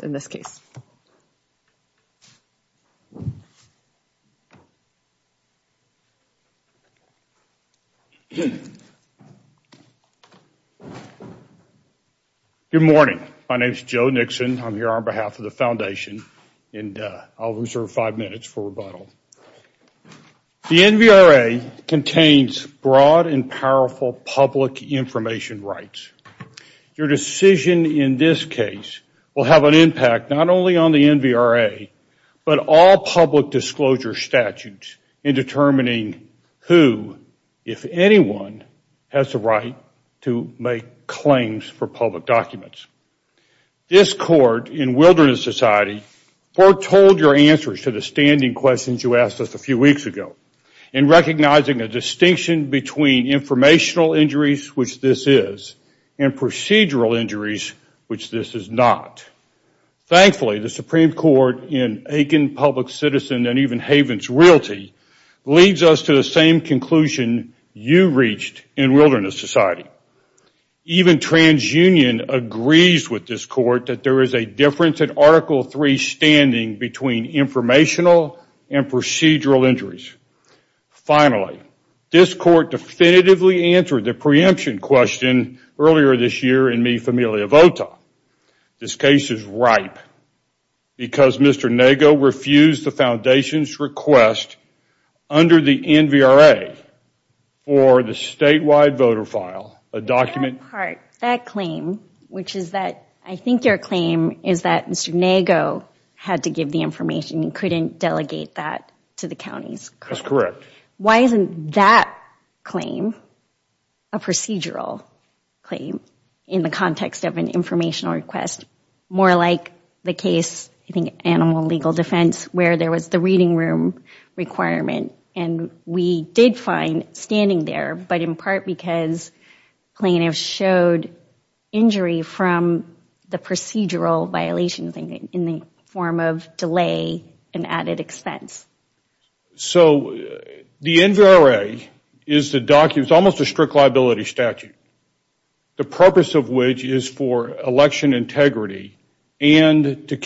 Good morning, my name is Joe Nixon, I'm here on behalf of the foundation and I'll reserve five minutes for rebuttal. The NVRA contains broad and powerful public information rights. Your decision in this case will have an impact not only on the NVRA, but all public disclosure statutes in determining who, if anyone, has the right to make claims for public documents. This court in Wilderness Society foretold your answers to the standing questions you asked us a few weeks ago in recognizing a distinction between informational injuries, which this is, and procedural injuries, which this is not. Thankfully, the Supreme Court in Aiken Public Citizen and even Havens Realty leads us to the same conclusion you reached in Wilderness Society. Even TransUnion agrees with this court that there is a difference in Article III standing between informational and procedural injuries. Finally, this court definitively answered the preemption question earlier this year in Mi Familia Vota. This case is ripe because Mr. Nago refused the foundation's request under the NVRA for the statewide voter file, a document- That part, that claim, which is that, I think your claim is that Mr. Nago had to give the information. He couldn't delegate that to the counties. That's correct. Why isn't that claim a procedural claim in the context of an informational request? More like the case, I think Animal Legal Defense, where there was the reading room requirement. We did find standing there, but in part because plaintiffs showed injury from the procedural violations in the form of delay and added expense. The NVRA is the document, it's almost a strict liability statute, the purpose of which is for election integrity and to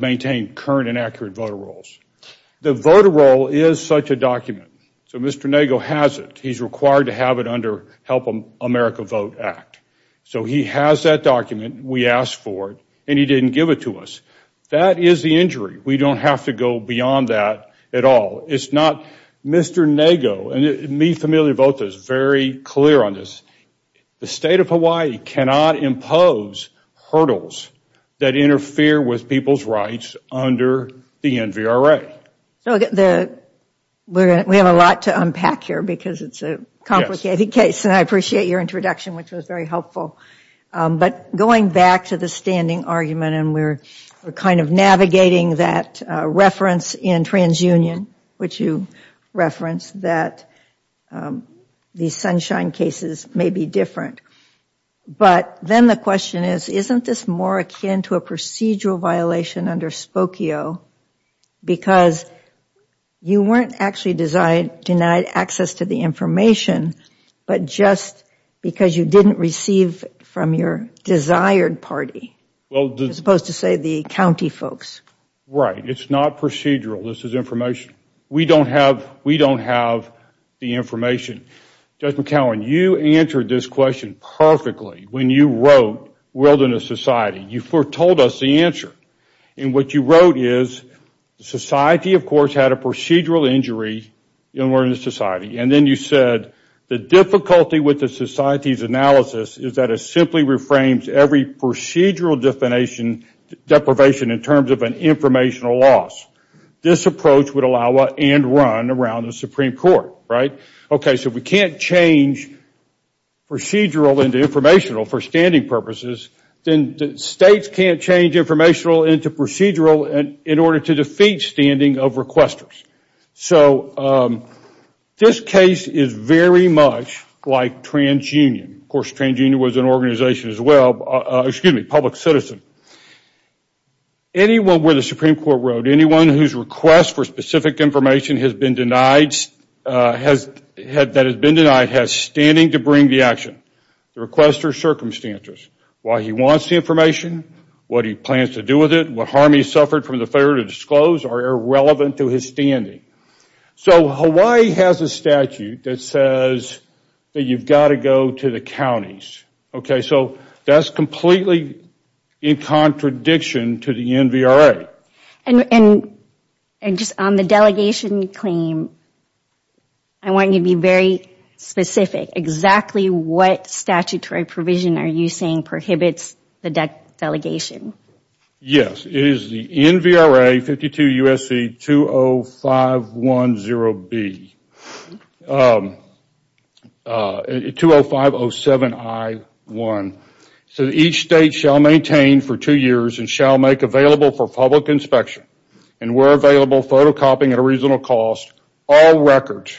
maintain current and accurate voter rolls. The voter roll is such a document, so Mr. Nago has it. He's required to have it under Help America Vote Act. He has that document, we asked for it, and he didn't give it to us. That is the injury. We don't have to go beyond that at all. It's not Mr. Nago, and me Familia Vota is very clear on this. The State of Hawaii cannot impose hurdles that interfere with people's rights under the NVRA. We have a lot to unpack here because it's a complicated case. I appreciate your introduction, which was very helpful. Going back to the standing argument, and we're navigating that reference in TransUnion, which you referenced, that the Sunshine cases may be different, but then the question is, isn't this more akin to a procedural violation under Spokio because you weren't actually denied access to the information, but just because you didn't receive from your desired party, as opposed to, say, the county folks? Right. It's not procedural. This is information. We don't have the information. Judge McCowan, you answered this question perfectly when you wrote Wilderness Society. You foretold us the answer. What you wrote is, society, of course, had a procedural injury in Wilderness Society, and then you said, the difficulty with the society's analysis is that it simply reframes every procedural deprivation in terms of an informational loss. This approach would allow and run around the Supreme Court, right? Okay, so we can't change procedural into informational for standing purposes, then states can't change informational into procedural in order to defeat standing of requesters. This case is very much like TransUnion. Of course, TransUnion was an organization as well, excuse me, public citizen. Anyone where the Supreme Court wrote, anyone whose request for specific information has been denied, that has been denied, has standing to bring the action, the requester's circumstances, why he wants the information, what he plans to do with it, what harm he suffered from the failure to disclose are irrelevant to his standing. So Hawaii has a statute that says that you've got to go to the counties, okay? So that's completely in contradiction to the NVRA. And just on the delegation claim, I want you to be very specific, exactly what statutory provision are you saying prohibits the delegation? Yes, it is the NVRA 52 U.S.C. 20510B, 20507I1. So each state shall maintain for two years and shall make available for public inspection and where available photocopying at a reasonable cost all records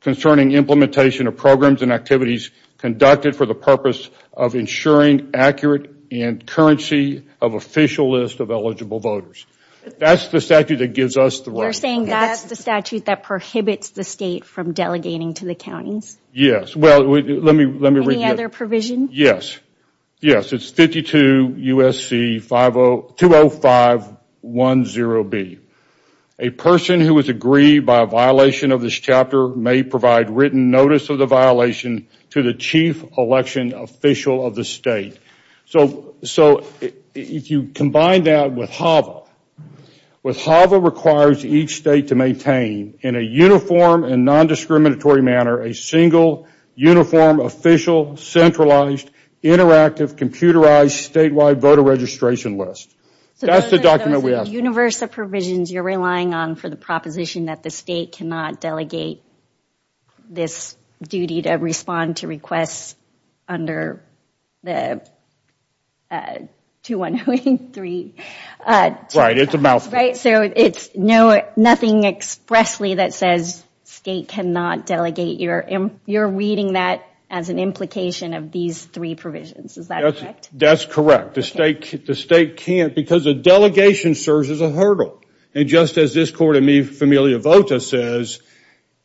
concerning implementation of programs and activities conducted for the purpose of ensuring accurate and currency of official list of eligible voters. That's the statute that gives us the right. You're saying that's the statute that prohibits the state from delegating to the counties? Yes. Well, let me read it. Any other provision? Yes. Yes. It's 52 U.S.C. 20510B. A person who is aggrieved by a violation of this chapter may provide written notice of the violation to the chief election official of the state. So if you combine that with HAVA, HAVA requires each state to maintain in a uniform and non-discriminatory manner a single uniform official centralized interactive computerized statewide voter registration list. That's the document we asked for. So those are the universe of provisions you're relying on for the proposition that the state cannot delegate this duty to respond to requests under the 2103. Right. It's a mouthful. Right. So it's nothing expressly that says state cannot delegate. You're reading that as an implication of these three provisions. Is that correct? That's correct. That's correct. The state can't because a delegation serves as a hurdle. And just as this court in Mi Familia Vota says,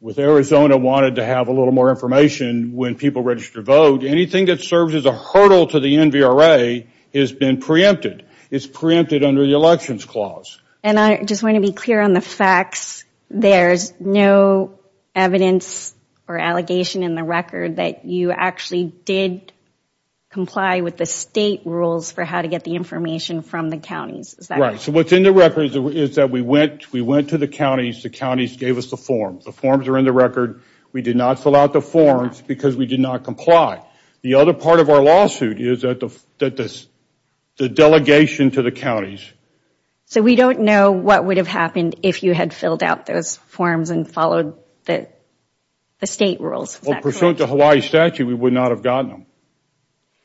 with Arizona wanted to have a little more information when people register to vote, anything that serves as a hurdle to the NVRA has been preempted. It's preempted under the Elections Clause. And I just want to be clear on the facts. There's no evidence or allegation in the record that you actually did comply with the state rules for how to get the information from the counties. Is that correct? So what's in the record is that we went to the counties. The counties gave us the forms. The forms are in the record. We did not fill out the forms because we did not comply. The other part of our lawsuit is that the delegation to the counties. So we don't know what would have happened if you had filled out those forms and followed the state rules. Is that correct? Well, pursuant to Hawaii statute, we would not have gotten them.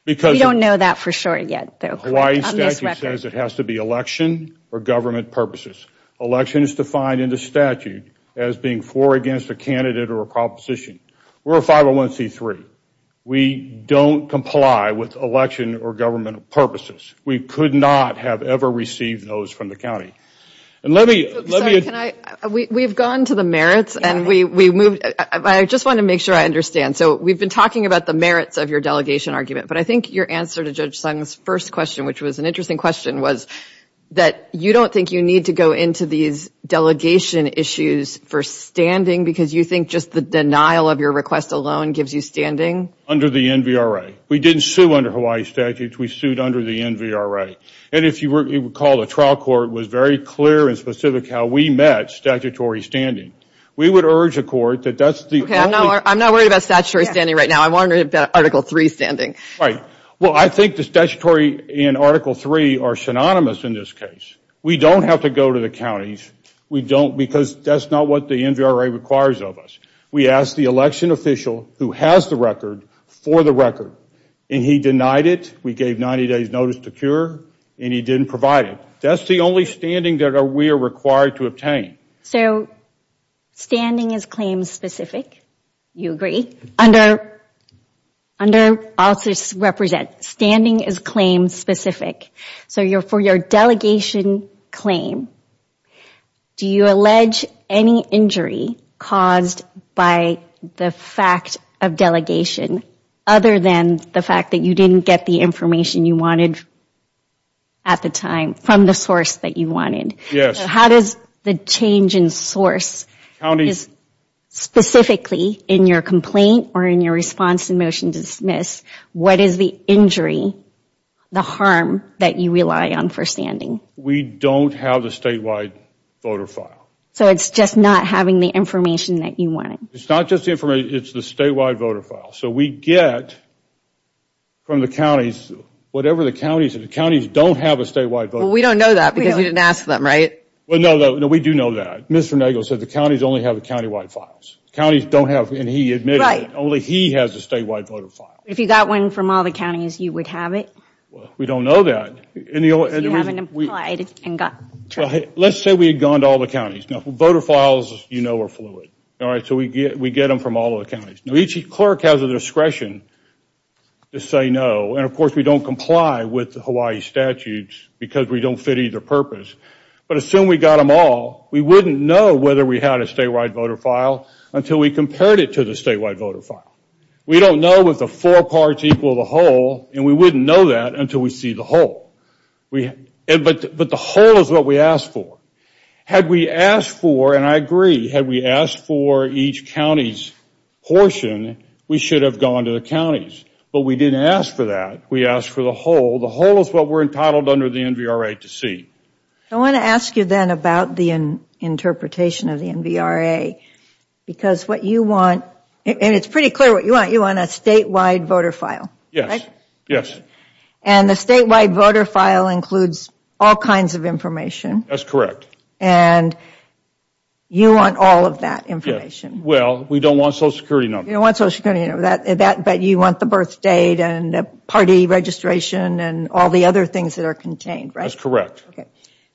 We don't know that for sure yet, though. On this record. The Hawaii statute says it has to be election or government purposes. Election is defined in the statute as being for or against a candidate or a proposition. We're a 501c3. We don't comply with election or government purposes. We could not have ever received those from the county. And let me... Sorry, can I... We've gone to the merits and we moved... I just want to make sure I understand. So we've been talking about the merits of your delegation argument, but I think your answer to Judge Sung's first question, which was an interesting question, was that you don't think you need to go into these delegation issues for standing because you think just the denial of your request alone gives you standing? Under the NVRA. We didn't sue under Hawaii statute. We sued under the NVRA. And if you recall, the trial court was very clear and specific how we met statutory standing. We would urge a court that that's the only... I'm not worried about statutory standing right now. I'm wondering about Article III standing. Right. Well, I think the statutory and Article III are synonymous in this case. We don't have to go to the counties. We don't because that's not what the NVRA requires of us. We ask the election official who has the record for the record, and he denied it. We gave 90 days notice to cure, and he didn't provide it. That's the only standing that we are required to obtain. So, standing is claim specific. You agree? Under... I'll just represent. Standing is claim specific. So for your delegation claim, do you allege any injury caused by the fact of delegation other than the fact that you didn't get the information you wanted at the time from the source that you wanted? Yes. How does the change in source, specifically in your complaint or in your response in motion to dismiss, what is the injury, the harm that you rely on for standing? We don't have the statewide voter file. So it's just not having the information that you wanted? It's not just the information. It's the statewide voter file. So we get from the counties, whatever the counties, the counties don't have a statewide voter file. We don't know that because you didn't ask them, right? No, we do know that. Mr. Nagle said the counties only have the countywide files. Counties don't have, and he admitted that only he has a statewide voter file. If you got one from all the counties, you would have it? We don't know that. So you haven't applied and got... Let's say we had gone to all the counties. Voter files, you know, are fluid, so we get them from all the counties. Now each clerk has a discretion to say no, and of course we don't comply with the Hawaii statutes because we don't fit either purpose. But assume we got them all, we wouldn't know whether we had a statewide voter file until we compared it to the statewide voter file. We don't know if the four parts equal the whole, and we wouldn't know that until we see the whole. But the whole is what we asked for. Had we asked for, and I agree, had we asked for each county's portion, we should have gone to the counties. But we didn't ask for that. We asked for the whole. The whole is what we're entitled under the NVRA to see. I want to ask you then about the interpretation of the NVRA. Because what you want, and it's pretty clear what you want, you want a statewide voter file. Yes. And the statewide voter file includes all kinds of information. That's correct. And you want all of that information. Well, we don't want Social Security numbers. You don't want Social Security numbers. But you want the birth date and the party registration and all the other things that are contained, right? That's correct.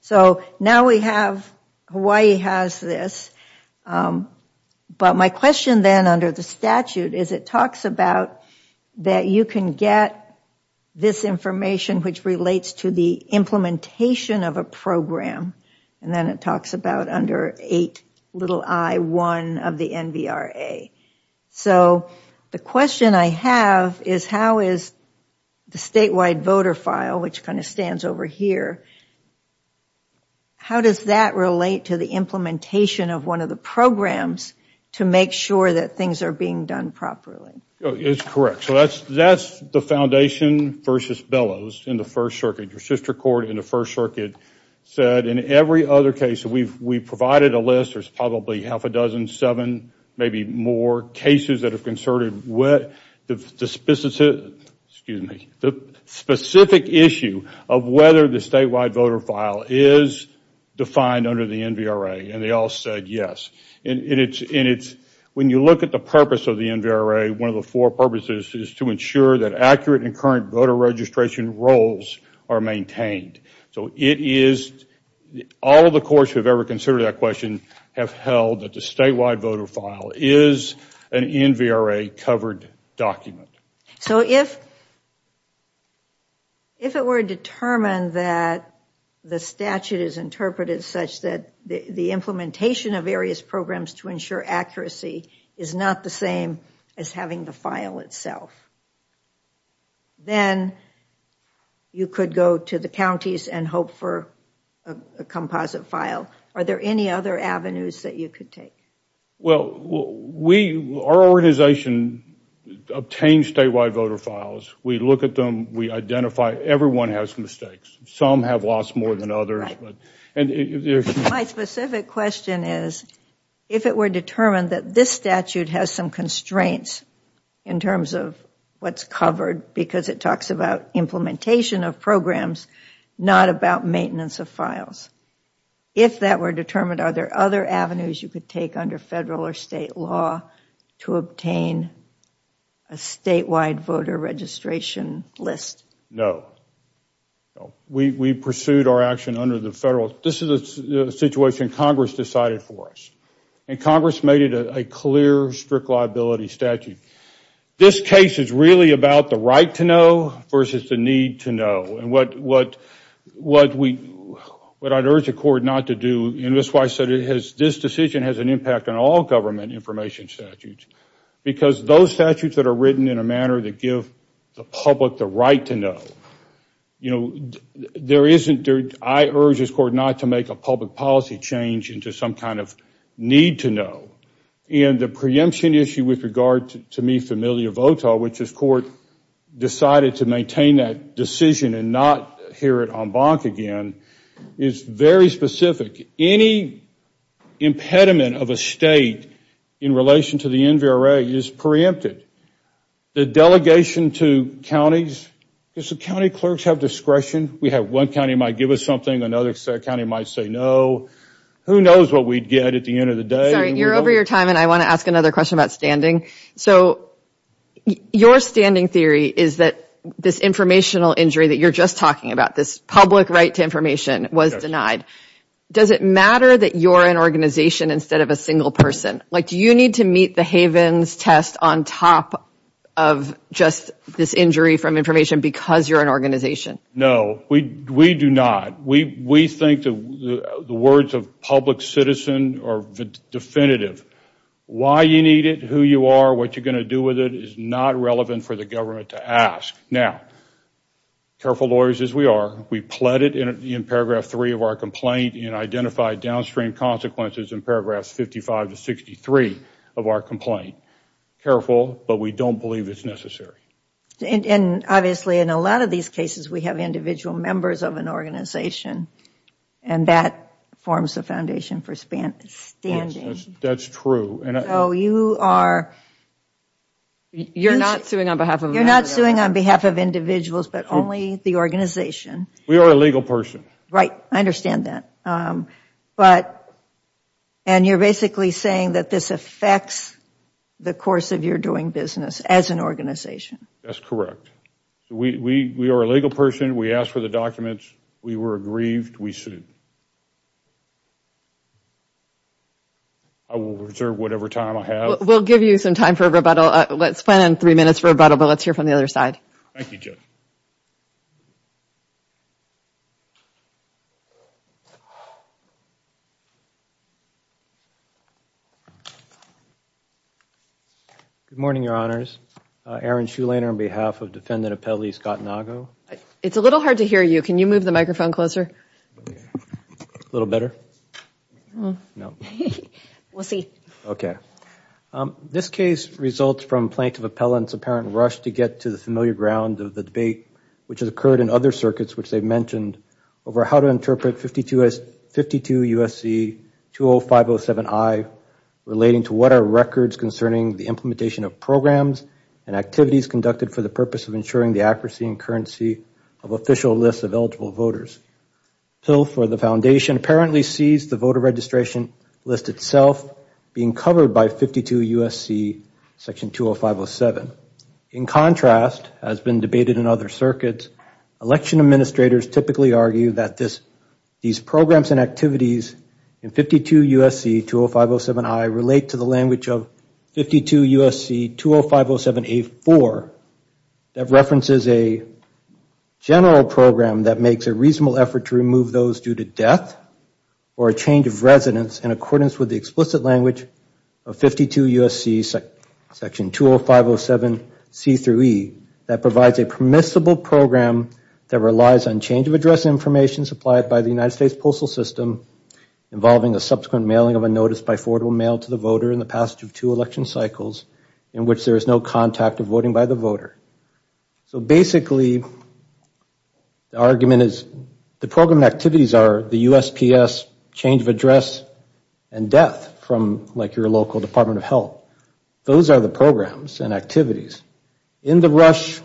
So now we have, Hawaii has this. But my question then under the statute is it talks about that you can get this information which relates to the implementation of a program. And then it talks about under 8 i1 of the NVRA. So the question I have is how is the statewide voter file, which kind of stands over here, how does that relate to the implementation of one of the programs to make sure that things are being done properly? It's correct. So that's the foundation versus Bellows in the First Circuit. Your sister court in the First Circuit said in every other case we've provided a list. There's probably half a dozen, seven, maybe more cases that have concerted the specific issue of whether the statewide voter file is defined under the NVRA. And they all said yes. When you look at the purpose of the NVRA, one of the four purposes is to ensure that accurate and current voter registration roles are maintained. So it is, all the courts who have ever considered that question have held that the statewide voter file is an NVRA covered document. So if it were determined that the statute is interpreted such that the implementation of various programs to ensure accuracy is not the same as having the file itself, then you could go to the counties and hope for a composite file. Are there any other avenues that you could take? Well, we, our organization, obtain statewide voter files. We look at them. We identify everyone has mistakes. Some have lost more than others. My specific question is, if it were determined that this statute has some constraints in terms of what is covered because it talks about implementation of programs, not about maintenance of files, if that were determined, are there other avenues you could take under federal or state law to obtain a statewide voter registration list? No. No. We pursued our action under the federal. This is a situation Congress decided for us. And Congress made it a clear strict liability statute. This case is really about the right to know versus the need to know. And what I'd urge the court not to do, and this is why I said this decision has an impact on all government information statutes, because those statutes that are written in a manner that give the public the right to know, you know, there isn't, I urge this court not to make a public policy change into some kind of need to know. And the preemption issue with regard to Mi Familia Vota, which this court decided to maintain that decision and not hear it en banc again, is very specific. Any impediment of a state in relation to the NVRA is preempted. The delegation to counties, does the county clerks have discretion? We have one county might give us something, another county might say no. Who knows what we'd get at the end of the day? Sorry, you're over your time and I want to ask another question about standing. So your standing theory is that this informational injury that you're just talking about, this public right to information was denied. Does it matter that you're an organization instead of a single person? Like do you need to meet the Havens test on top of just this injury from information because you're an organization? No, we do not. We think the words of public citizen are definitive. Why you need it, who you are, what you're going to do with it is not relevant for the government to ask. Now, careful lawyers as we are, we pled it in paragraph three of our complaint and identified downstream consequences in paragraphs 55 to 63 of our complaint. Careful, but we don't believe it's necessary. And obviously in a lot of these cases we have individual members of an organization and that forms the foundation for standing. That's true. So you are... You're not suing on behalf of individuals but only the organization. We are a legal person. Right, I understand that. But, and you're basically saying that this affects the course of your doing business as an organization. That's correct. We are a legal person. We asked for the documents. We were aggrieved. We sued. I will reserve whatever time I have. We'll give you some time for a rebuttal. Let's plan on three minutes for a rebuttal, but let's hear from the other side. Thank you, Judge. Good morning, Your Honors. Aaron Shulainer on behalf of Defendant Appellee Scott Nago. It's a little hard to hear you. Can you move the microphone closer? A little better? No. We'll see. Okay. This case results from Plaintiff Appellant's apparent rush to get to the familiar ground of the debate, which has occurred in other circuits which they've mentioned, over how to interpret 52 U.S.C. 20507I relating to what are records concerning the implementation of programs and activities conducted for the purpose of ensuring the accuracy and currency of official lists of eligible voters. Till for the Foundation apparently sees the voter registration list itself being covered by 52 U.S.C. section 20507. In contrast, as has been debated in other circuits, election administrators typically argue that these programs and activities in 52 U.S.C. 20507I relate to the language of 52 U.S.C. 20507A4 that references a general program that makes a reasonable effort to remove those due to death or a change of residence in accordance with the explicit language of 52 U.S.C. section 20507C-E that provides a permissible program that relies on change of address information supplied by the United States Postal System involving a subsequent mailing of a notice by forwardable mail to the voter in the passage of two election cycles in which there is no contact of voting by the voter. So basically, the argument is, the program activities are the USPS change of address and death from like your local Department of Health. Those are the programs and activities. In the rush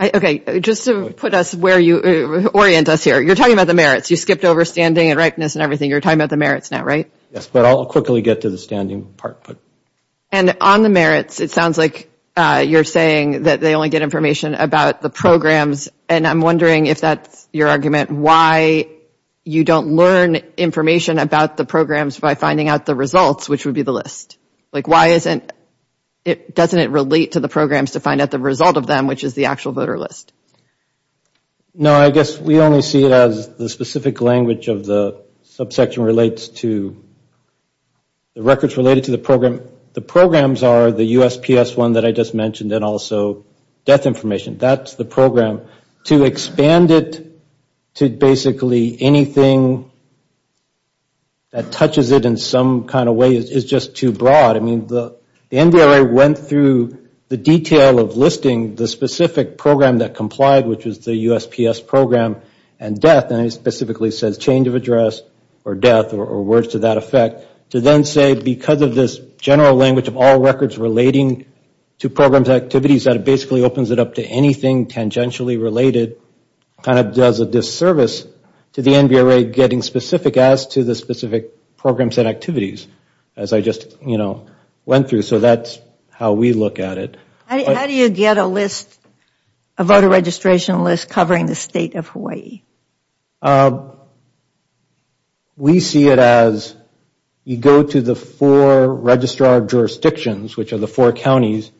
Okay, just to put us where you orient us here, you're talking about the merits. You skipped over standing and ripeness and everything. You're talking about the merits now, right? Yes, but I'll quickly get to the standing part. And on the merits, it sounds like you're saying that they only get information about the programs and I'm wondering if that's your argument, why you don't learn information about the programs by finding out the results, which would be the list. Like why isn't it, doesn't it relate to the programs to find out the result of them, which is the actual voter list? No, I guess we only see it as the specific language of the subsection relates to the records related to the program. The programs are the USPS one that I just mentioned and also death information. That's the program. To expand it to basically anything that touches it in some kind of way is just too broad. I mean, the NDRA went through the detail of listing the specific program that complied, which was the USPS program and death, and it specifically says change of address or death or words to that effect, to then say because of this general language of all records relating to programs and activities, that it basically opens it up to anything tangentially related kind of does a disservice to the NDRA getting specific as to the specific programs and activities, as I just went through. So that's how we look at it. How do you get a list, a voter registration list covering the state of Hawaii? We see it as you go to the four registrar jurisdictions, which are the four counties,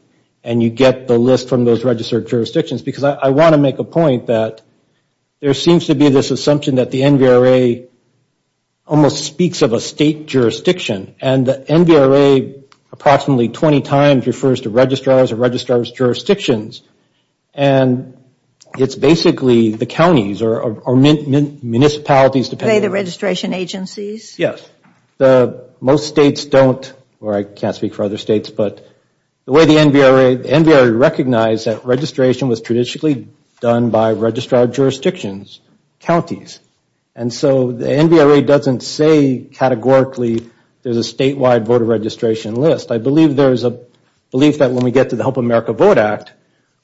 and you get the list from those registered jurisdictions, because I want to make a point that there seems to be this assumption that the NDRA almost speaks of a state jurisdiction, and the NDRA approximately 20 times refers to registrars or registrar's jurisdictions, and it's basically the counties or municipalities depending on the state. Are they the registration agencies? Yes. Most states don't, or I can't speak for other states, but the way the NDRA recognized that registration was traditionally done by registrar jurisdictions, counties, and so the NDRA doesn't say categorically there's a statewide voter registration list. I believe there's a belief that when we get to the Help America Vote Act,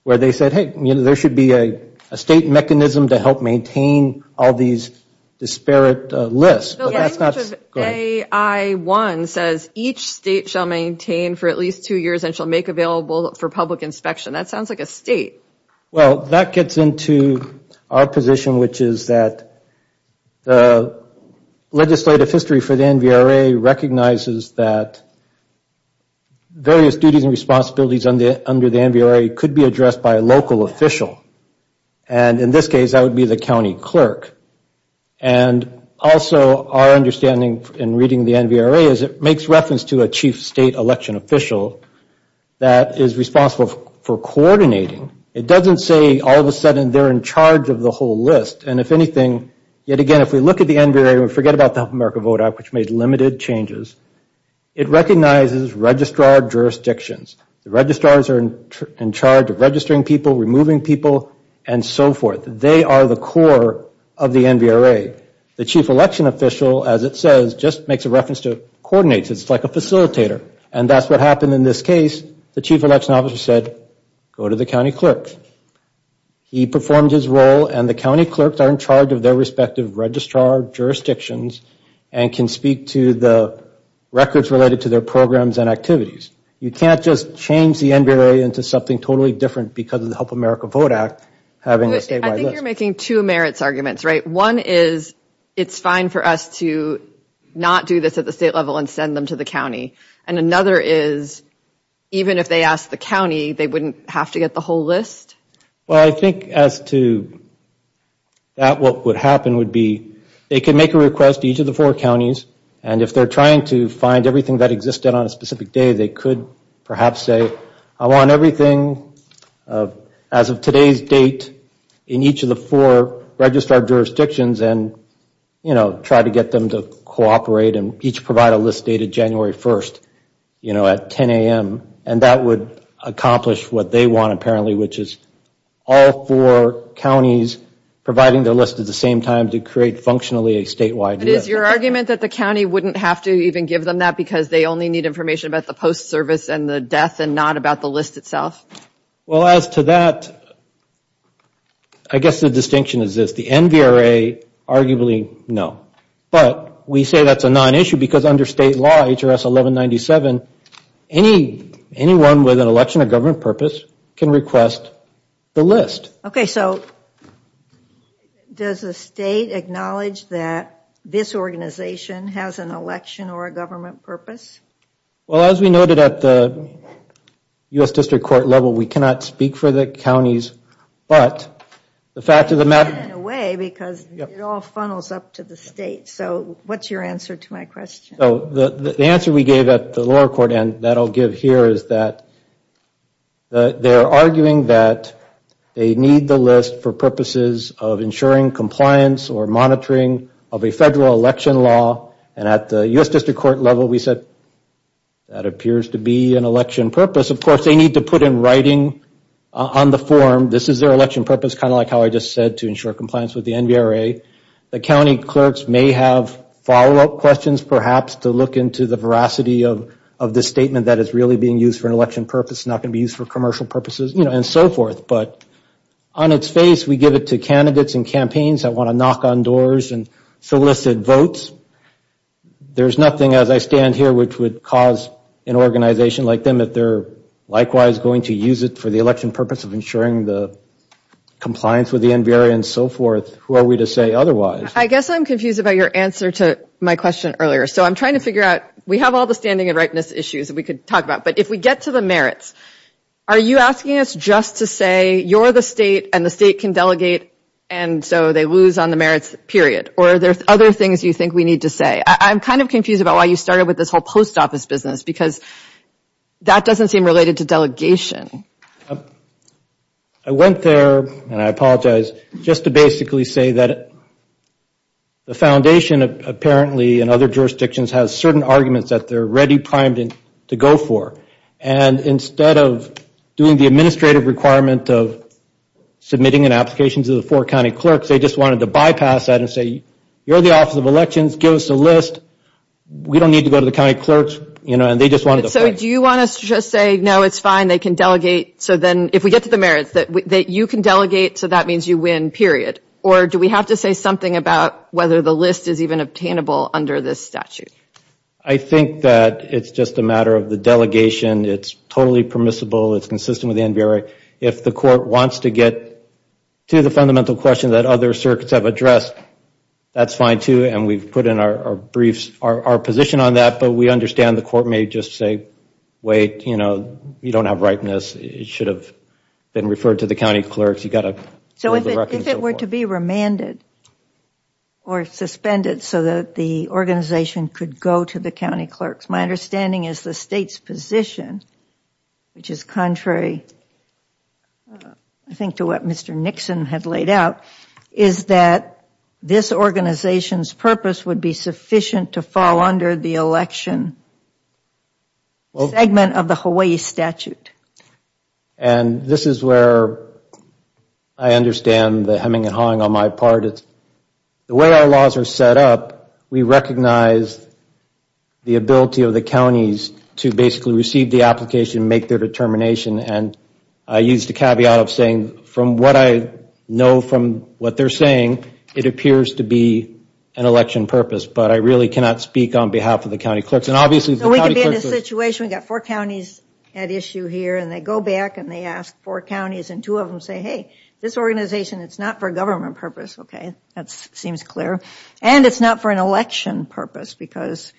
where they said, hey, there should be a state mechanism to help maintain all these disparate lists, but that's not... AI-1 says each state shall maintain for at least two years and shall make available for public inspection. That sounds like a state. Well, that gets into our position, which is that the legislative history for the NDRA recognizes that various duties and responsibilities under the NDRA could be addressed by a local official, and in this case, that would be the county clerk, and also our understanding in reading the NDRA is it makes reference to a chief state election official that is responsible for coordinating. It doesn't say all of a sudden they're in charge of the whole list, and if anything, yet again, if we look at the NDRA and forget about the Help America Vote Act, which made limited changes, it recognizes registrar jurisdictions. The registrars are in charge of registering people, removing people, and so forth. They are the core of the NDRA. The chief election official, as it says, just makes a reference to coordinates. It's like a facilitator, and that's what happened in this case. The chief election officer said, go to the county clerk. He performed his role, and the county clerks are in charge of their respective registrar jurisdictions and can speak to the records related to their programs and activities. You can't just change the NDRA into something totally different because of the Help America Vote Act having a statewide list. I think you're making two merits arguments, right? One is it's fine for us to not do this at the state level and send them to the county, and another is even if they asked the county, they wouldn't have to get the whole list? Well, I think as to that, what would happen would be they could make a request to each of the four counties, and if they're trying to find everything that existed on a specific day, they could perhaps say, I want everything as of today's date in each of the four registrar jurisdictions and try to get them to cooperate and each provide a list dated January 1st at 10 a.m., and that would accomplish what they want apparently, which is all four counties providing their list at the same time to create functionally a statewide list. But is your argument that the county wouldn't have to even give them that because they only need information about the post service and the death and not about the list itself? Well, as to that, I guess the distinction is this, the NVRA arguably no, but we say that's a non-issue because under state law, H.R.S. 1197, anyone with an election or government purpose can request the list. Okay, so does the state acknowledge that this organization has an election or a government purpose? Well, as we noted at the U.S. District Court level, we cannot speak for the counties, but the fact of the matter... In a way, because it all funnels up to the state, so what's your answer to my question? So the answer we gave at the lower court end that I'll give here is that they're arguing that they need the list for purposes of ensuring compliance or monitoring of a federal election law, and at the U.S. District Court level, we said that appears to be an election purpose. Of course, they need to put in writing on the form, this is their election purpose, kind of like how I just said, to ensure compliance with the NVRA. The county clerks may have follow-up questions perhaps to look into the veracity of this statement that is really being used for an election purpose, not going to be used for commercial purposes, you know, and so forth. But on its face, we give it to candidates and campaigns that want to knock on doors and solicit votes. There's nothing, as I stand here, which would cause an organization like them, if they're likewise going to use it for the election purpose of ensuring the compliance with the NVRA and so forth, who are we to say otherwise? I guess I'm confused about your answer to my question earlier. So I'm trying to figure out... We have all the standing and rightness issues that we could talk about, but if we get to the merits, are you asking us just to say you're the state and the state can delegate and so they lose on the merits, period? Or are there other things you think we need to say? I'm kind of confused about why you started with this whole post office business, because that doesn't seem related to delegation. I went there, and I apologize, just to basically say that the foundation apparently in other jurisdictions has certain arguments that they're ready primed to go for. And instead of doing the administrative requirement of submitting an application to the four county clerks, they just wanted to bypass that and say, you're the Office of Elections, give us a list. We don't need to go to the county clerks, you know, and they just wanted to... So do you want us to just say, no, it's fine, they can delegate. So then if we get to the merits that you can delegate, so that means you win, period. Or do we have to say something about whether the list is even obtainable under this statute? I think that it's just a matter of the delegation. It's totally permissible. It's consistent with the NBRA. If the court wants to get to the fundamental question that other circuits have addressed, that's fine, too, and we've put in our briefs our position on that. But we understand the court may just say, wait, you know, you don't have ripeness. It should have been referred to the county clerks. You've got to... So if it were to be remanded or suspended so that the organization could go to the county clerks, my understanding is the state's position, which is contrary, I think, to what Mr. Nixon had laid out, is that this organization's purpose would be sufficient to fall under the election segment of the Hawaii statute. And this is where I understand the hemming and hawing on my part. The way our laws are set up, we recognize the ability of the counties to basically receive the application, make their determination, and I use the caveat of saying, from what I know from what they're saying, it appears to be an election purpose, but I really cannot speak on behalf of the county clerks. So we could be in a situation, we've got four counties at issue here, and they go back and they ask four counties, and two of them say, hey, this organization, it's not for a government purpose, okay? That seems clear. And it's not for an election purpose because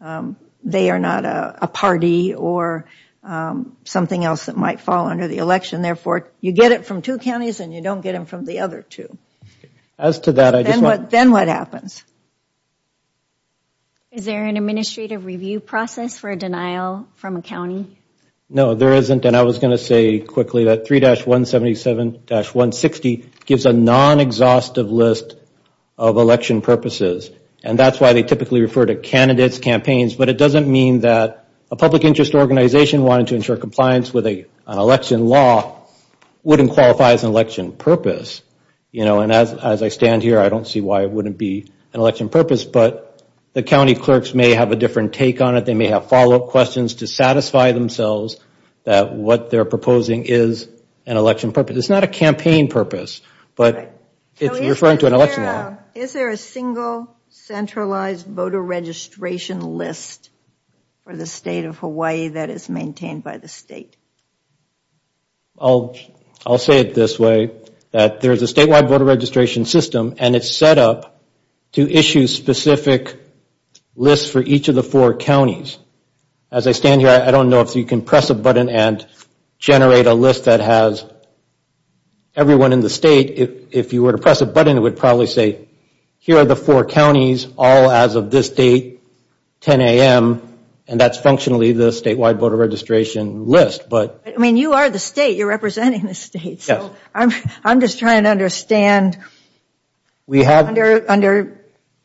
they are not a party or something else that might fall under the election. Therefore, you get it from two counties and you don't get it from the other two. As to that, I just want... Then what happens? Is there an administrative review process for a denial from a county? No, there isn't. And I was going to say quickly that 3-177-160 gives a non-exhaustive list of election purposes. And that's why they typically refer to candidates, campaigns, but it doesn't mean that a public interest organization wanting to ensure compliance with an election law wouldn't qualify as an election purpose. You know, and as I stand here, I don't see why it wouldn't be an election purpose, but the county clerks may have a different take on it. They may have follow-up questions to satisfy themselves that what they're proposing is an election purpose. It's not a campaign purpose, but it's referring to an election. Is there a single centralized voter registration list for the state of Hawaii that is maintained by the state? I'll say it this way, that there's a statewide voter registration system, and it's set up to issue specific lists for each of the four counties. As I stand here, I don't know if you can press a button and generate a list that has everyone in the state. If you were to press a button, it would probably say, here are the four counties, all as of this date, 10 a.m. And that's functionally the statewide voter registration list, but... I mean, you are the state, you're representing the state, so I'm just trying to understand. Under,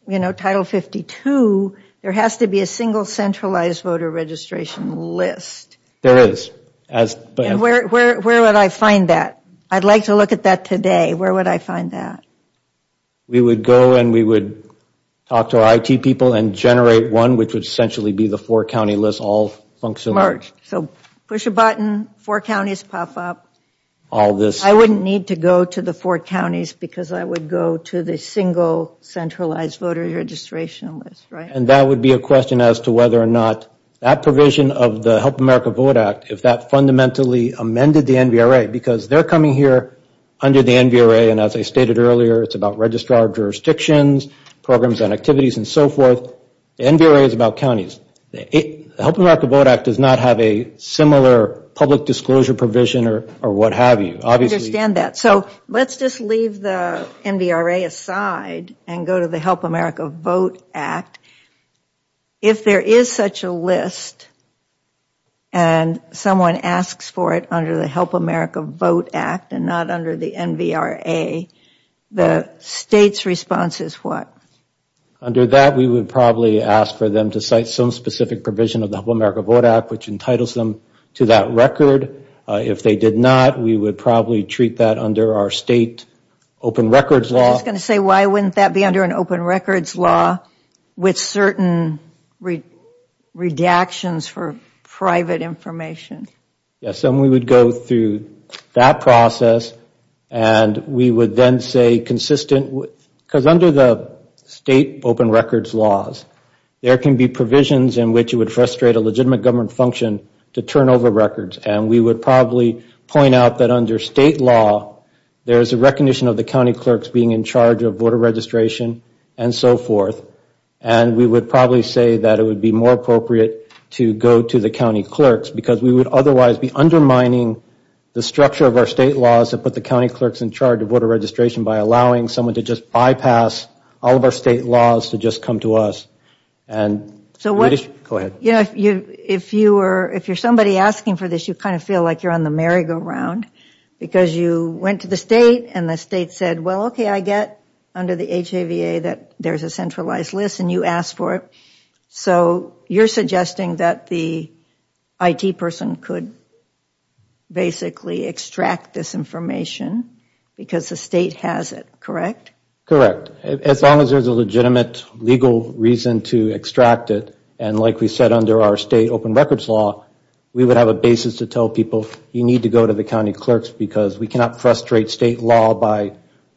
you know, Title 52, there has to be a single centralized voter registration list. There is. And where would I find that? I'd like to look at that today. Where would I find that? We would go and we would talk to our IT people and generate one, which would essentially be the four-county list, all functionally. So, push a button, four counties pop up. All this... I wouldn't need to go to the four counties because I would go to the single centralized voter registration list, right? And that would be a question as to whether or not that provision of the Help America Vote Act, if that fundamentally amended the NVRA, because they're coming here under the NVRA, and as I stated earlier, it's about registrar jurisdictions, programs and activities, and so forth. The NVRA is about counties. Help America Vote Act does not have a similar public disclosure provision or what have you. Obviously... I understand that. So, let's just leave the NVRA aside and go to the Help America Vote Act. If there is such a list and someone asks for it under the Help America Vote Act and not under the NVRA, the state's response is what? Under that, we would probably ask for them to cite some specific provision of the Help America Vote Act, which entitles them to that record. If they did not, we would probably treat that under our state open records law. I was just going to say, why wouldn't that be under an open records law with certain redactions for private information? Yes, and we would go through that process and we would then say consistent, because under the state open records laws, there can be provisions in which it would frustrate a legitimate government function to turn over records. We would probably point out that under state law, there is a recognition of the county clerks being in charge of voter registration and so forth. We would probably say that it would be more appropriate to go to the county clerks because we would otherwise be undermining the structure of our state laws that put the county clerks in charge of voter registration by allowing someone to just bypass all of our state laws to just come to us. Go ahead. If you are somebody asking for this, you kind of feel like you are on the merry-go-round because you went to the state and the state said, well, okay, I get under the HAVA that there is a centralized list and you asked for it. So, you are suggesting that the IT person could basically extract this information because the state has it, correct? Correct. As long as there is a legitimate legal reason to extract it, and like we said under our state open records law, we would have a basis to tell people, you need to go to the county clerks because we cannot frustrate state law by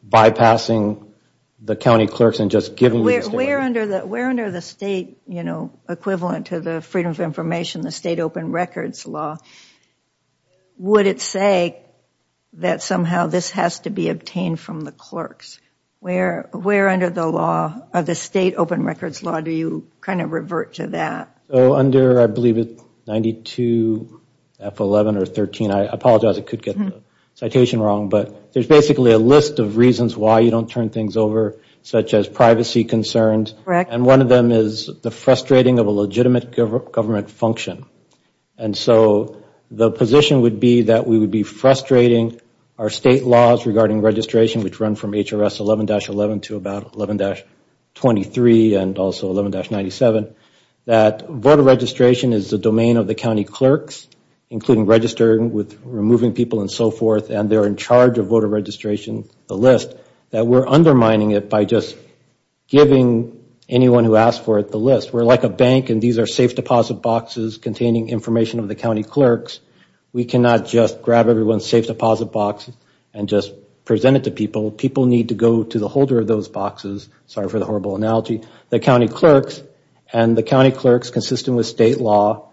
bypassing the county clerks and just giving them... Where under the state equivalent to the freedom of information, the state open records law, would it say that somehow this has to be obtained from the clerks? Where under the state open records law do you kind of revert to that? Under, I believe it is 92 F11 or 13, I apologize, I could get the citation wrong, but there is basically a list of reasons why you don't turn things over such as privacy concerns. Correct. And one of them is the frustrating of a legitimate government function. And so, the position would be that we would be frustrating our state laws regarding registration, which run from HRS 11-11 to about 11-23 and also 11-97, that voter registration is the domain of the county clerks, including registering with removing people and so forth, and they are in charge of voter registration, the list, that we are undermining it by just giving anyone who asked for it the list. We are like a bank and these are safe deposit boxes containing information of the county clerks. We cannot just grab everyone's safe deposit box and just present it to people. People need to go to the holder of those boxes. Sorry for the horrible analogy. The county clerks, and the county clerks consistent with state law,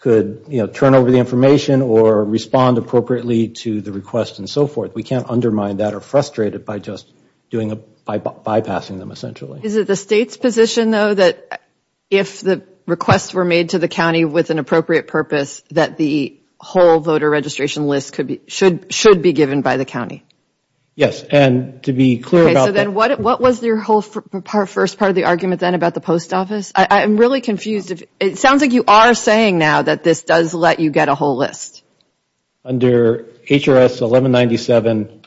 could turn over the information or respond appropriately to the request and so forth. We can't undermine that or frustrate it by just bypassing them essentially. Is it the state's position, though, that if the requests were made to the county with an appropriate purpose, that the whole voter registration list should be given by the county? Yes, and to be clear about that... Okay, so then what was your whole first part of the argument then about the post office? I'm really confused. It sounds like you are saying now that this does let you get a whole list. Under HRS 1197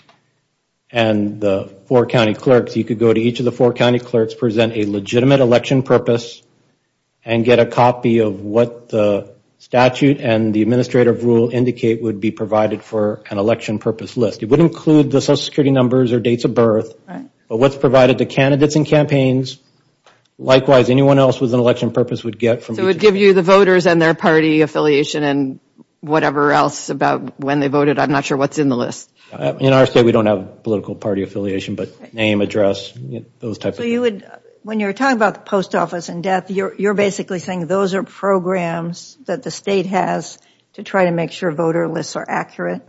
and the four county clerks, you could go to each of the four county clerks, present a legitimate election purpose, and get a copy of what the statute and the administrative rule indicate would be provided for an election purpose list. It would include the social security numbers or dates of birth, but what's provided to candidates and campaigns. Likewise, anyone else with an election purpose would get... It would give you the voters and their party affiliation and whatever else about when they voted. I'm not sure what's in the list. In our state, we don't have political party affiliation, but name, address, those types of... So you would, when you're talking about the post office and death, you're basically saying those are programs that the state has to try to make sure voter lists are accurate?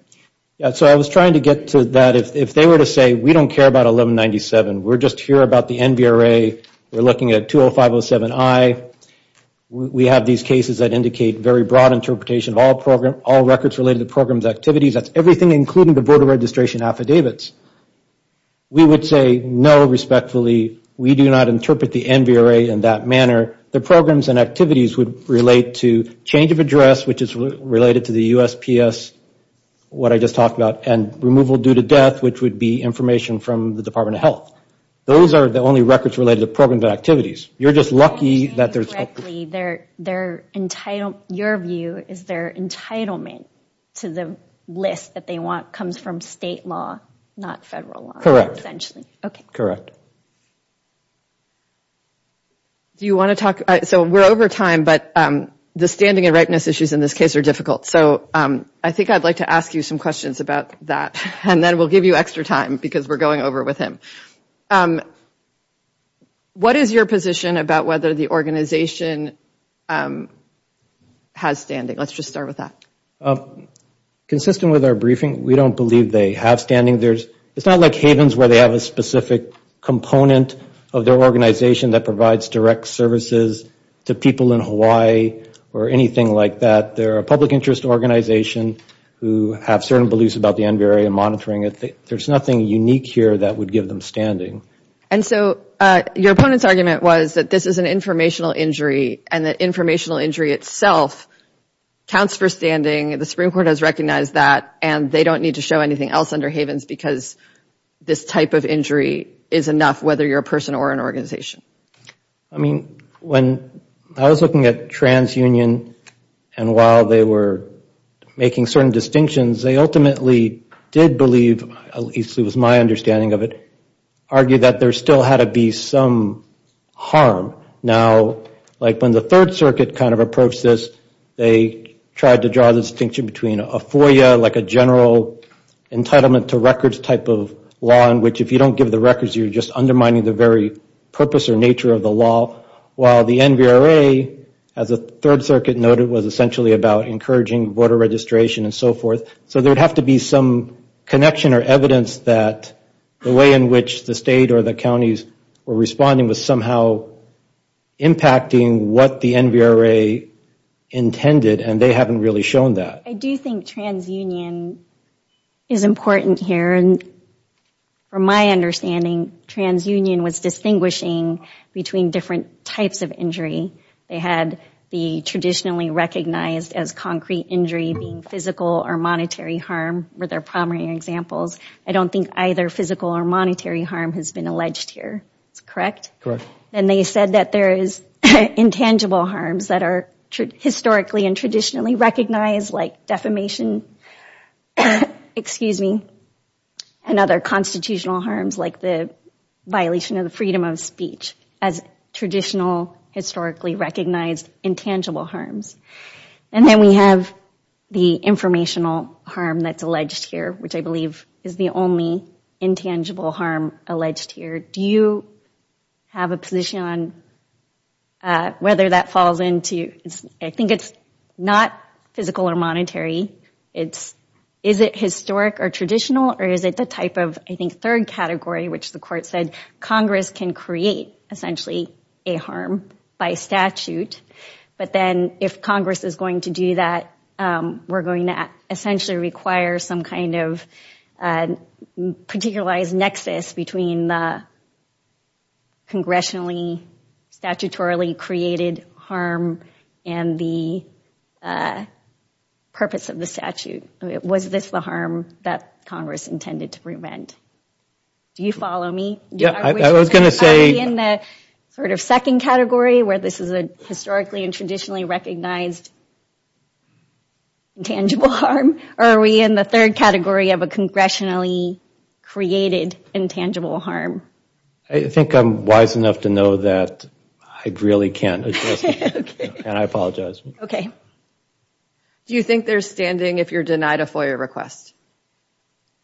Yeah, so I was trying to get to that. If they were to say, we don't care about 1197, we're just here about the NVRA. We're looking at 20507I. We have these cases that indicate very broad interpretation of all records related to programs activities. That's everything including the voter registration affidavits. We would say, no, respectfully, we do not interpret the NVRA in that manner. The programs and activities would relate to change of address, which is related to the USPS, what I just talked about, and removal due to death, which would be information from the Department of Health. Those are the only records related to programs and activities. You're just lucky that there's... Your view is their entitlement to the list that they want comes from state law, not federal law? Okay. Do you want to talk? We're over time, but the standing and rightness issues in this case are difficult. I think I'd like to ask you some questions about that. Then we'll give you extra time because we're going over with him. What is your position about whether the organization has standing? Let's just start with that. Consistent with our briefing, we don't believe they have standing. It's not like Havens where they have a specific component of their organization that provides direct services to people in Hawaii or anything like that. They're a public interest organization who have certain beliefs about the NVRA and monitoring it. There's nothing unique here that would give them standing. Your opponent's argument was that this is an informational injury, and that informational injury itself counts for standing. The Supreme Court has recognized that, and they don't need to show anything else under Havens because this type of injury is enough, whether you're a person or an organization. When I was looking at TransUnion, and while they were making certain distinctions, they ultimately did believe, at least it was my understanding of it, argued that there still had to be some harm. Now, when the Third Circuit kind of approached this, they tried to draw the distinction between a FOIA, like a general entitlement to records type of law in which if you don't give the records, you're just undermining the very purpose or nature of the law, while the NVRA, as the Third Circuit noted, was essentially about encouraging voter registration and so forth. So there'd have to be some connection or evidence that the way in which the state or the counties were responding was somehow impacting what the NVRA intended, and they haven't really shown that. I do think TransUnion is important here. And from my understanding, TransUnion was distinguishing between different types of injury. They had the traditionally recognized as concrete injury being physical or monetary harm were their primary examples. I don't think either physical or monetary harm has been alleged here. Is that correct? Correct. And they said that there is intangible harms that are historically and traditionally recognized, like defamation and other constitutional harms, like the violation of the freedom of speech, as traditional historically recognized intangible harms. And then we have the informational harm that's alleged here, which I believe is the only intangible harm alleged here. Do you have a position on whether that falls into, I think it's not physical or monetary. Is it historic or traditional, or is it the type of, I think, third category, which the court said Congress can create, essentially, a harm by statute. But then if Congress is going to do that, we're going to essentially require some kind of particularized nexus between the congressionally, statutorily created harm and the purpose of the statute. Was this the harm that Congress intended to prevent? Do you follow me? Yeah, I was going to say. Are we in the sort of second category, where this is a historically and traditionally recognized intangible harm, or are we in the third category of a congressionally created intangible harm? I think I'm wise enough to know that I really can't address it, and I apologize. Okay. Do you think there's standing if you're denied a FOIA request?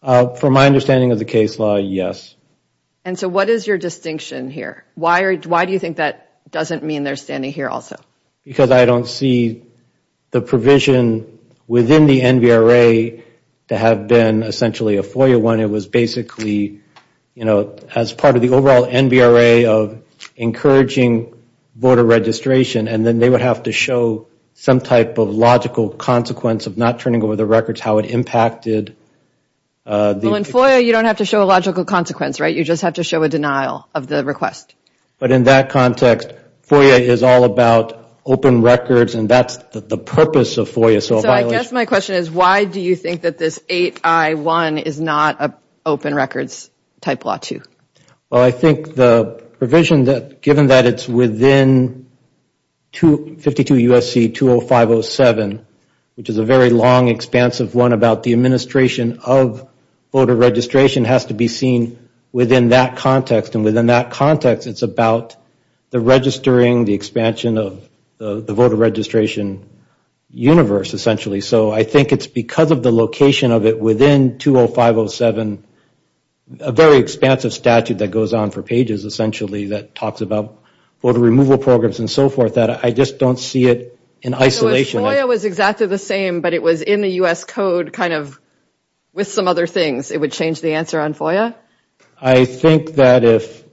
From my understanding of the case law, yes. And so what is your distinction here? Why do you think that doesn't mean there's standing here also? Because I don't see the provision within the NVRA to have been essentially a FOIA one. It was basically, you know, as part of the overall NVRA of encouraging border registration, and then they would have to show some type of logical consequence of not turning over the records, how it impacted. Well, in FOIA, you don't have to show a logical consequence, right? You just have to show a denial of the request. But in that context, FOIA is all about open records, and that's the purpose of FOIA. So I guess my question is, why do you think that this 8I1 is not an open records type law too? Well, I think the provision that, given that it's within 52 U.S.C. 20507, which is a very long, expansive one about the administration of voter registration, has to be seen within that context. And within that context, it's about the registering, the expansion of the voter registration universe, essentially. So I think it's because of the location of it within 20507, a very expansive statute that goes on for pages, essentially, that talks about voter removal programs and so forth, that I just don't see it in isolation. If FOIA was exactly the same, but it was in the U.S. Code kind of with some other things, it would change the answer on FOIA? I think that if –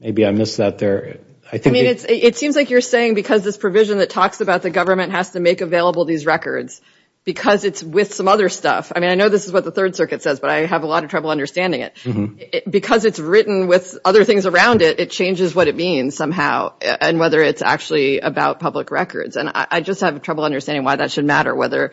maybe I missed that there. I mean, it seems like you're saying because this provision that talks about the government has to make available these records, because it's with some other stuff – I mean, I know this is what the Third Circuit says, but I have a lot of trouble understanding it. Because it's written with other things around it, it changes what it means somehow, and whether it's actually about public records. And I just have trouble understanding why that should matter, whether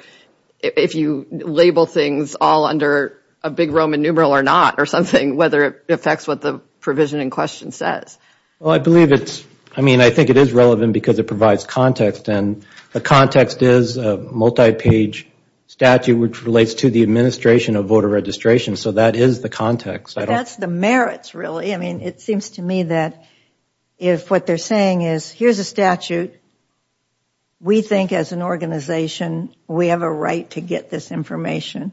if you label things all under a big Roman numeral or not or something, whether it affects what the provision in question says. Well, I believe it's – I mean, I think it is relevant because it provides context. And the context is a multi-page statute which relates to the administration of voter registration. So that is the context. That's the merits, really. I mean, it seems to me that if what they're saying is here's a statute, we think as an organization we have a right to get this information,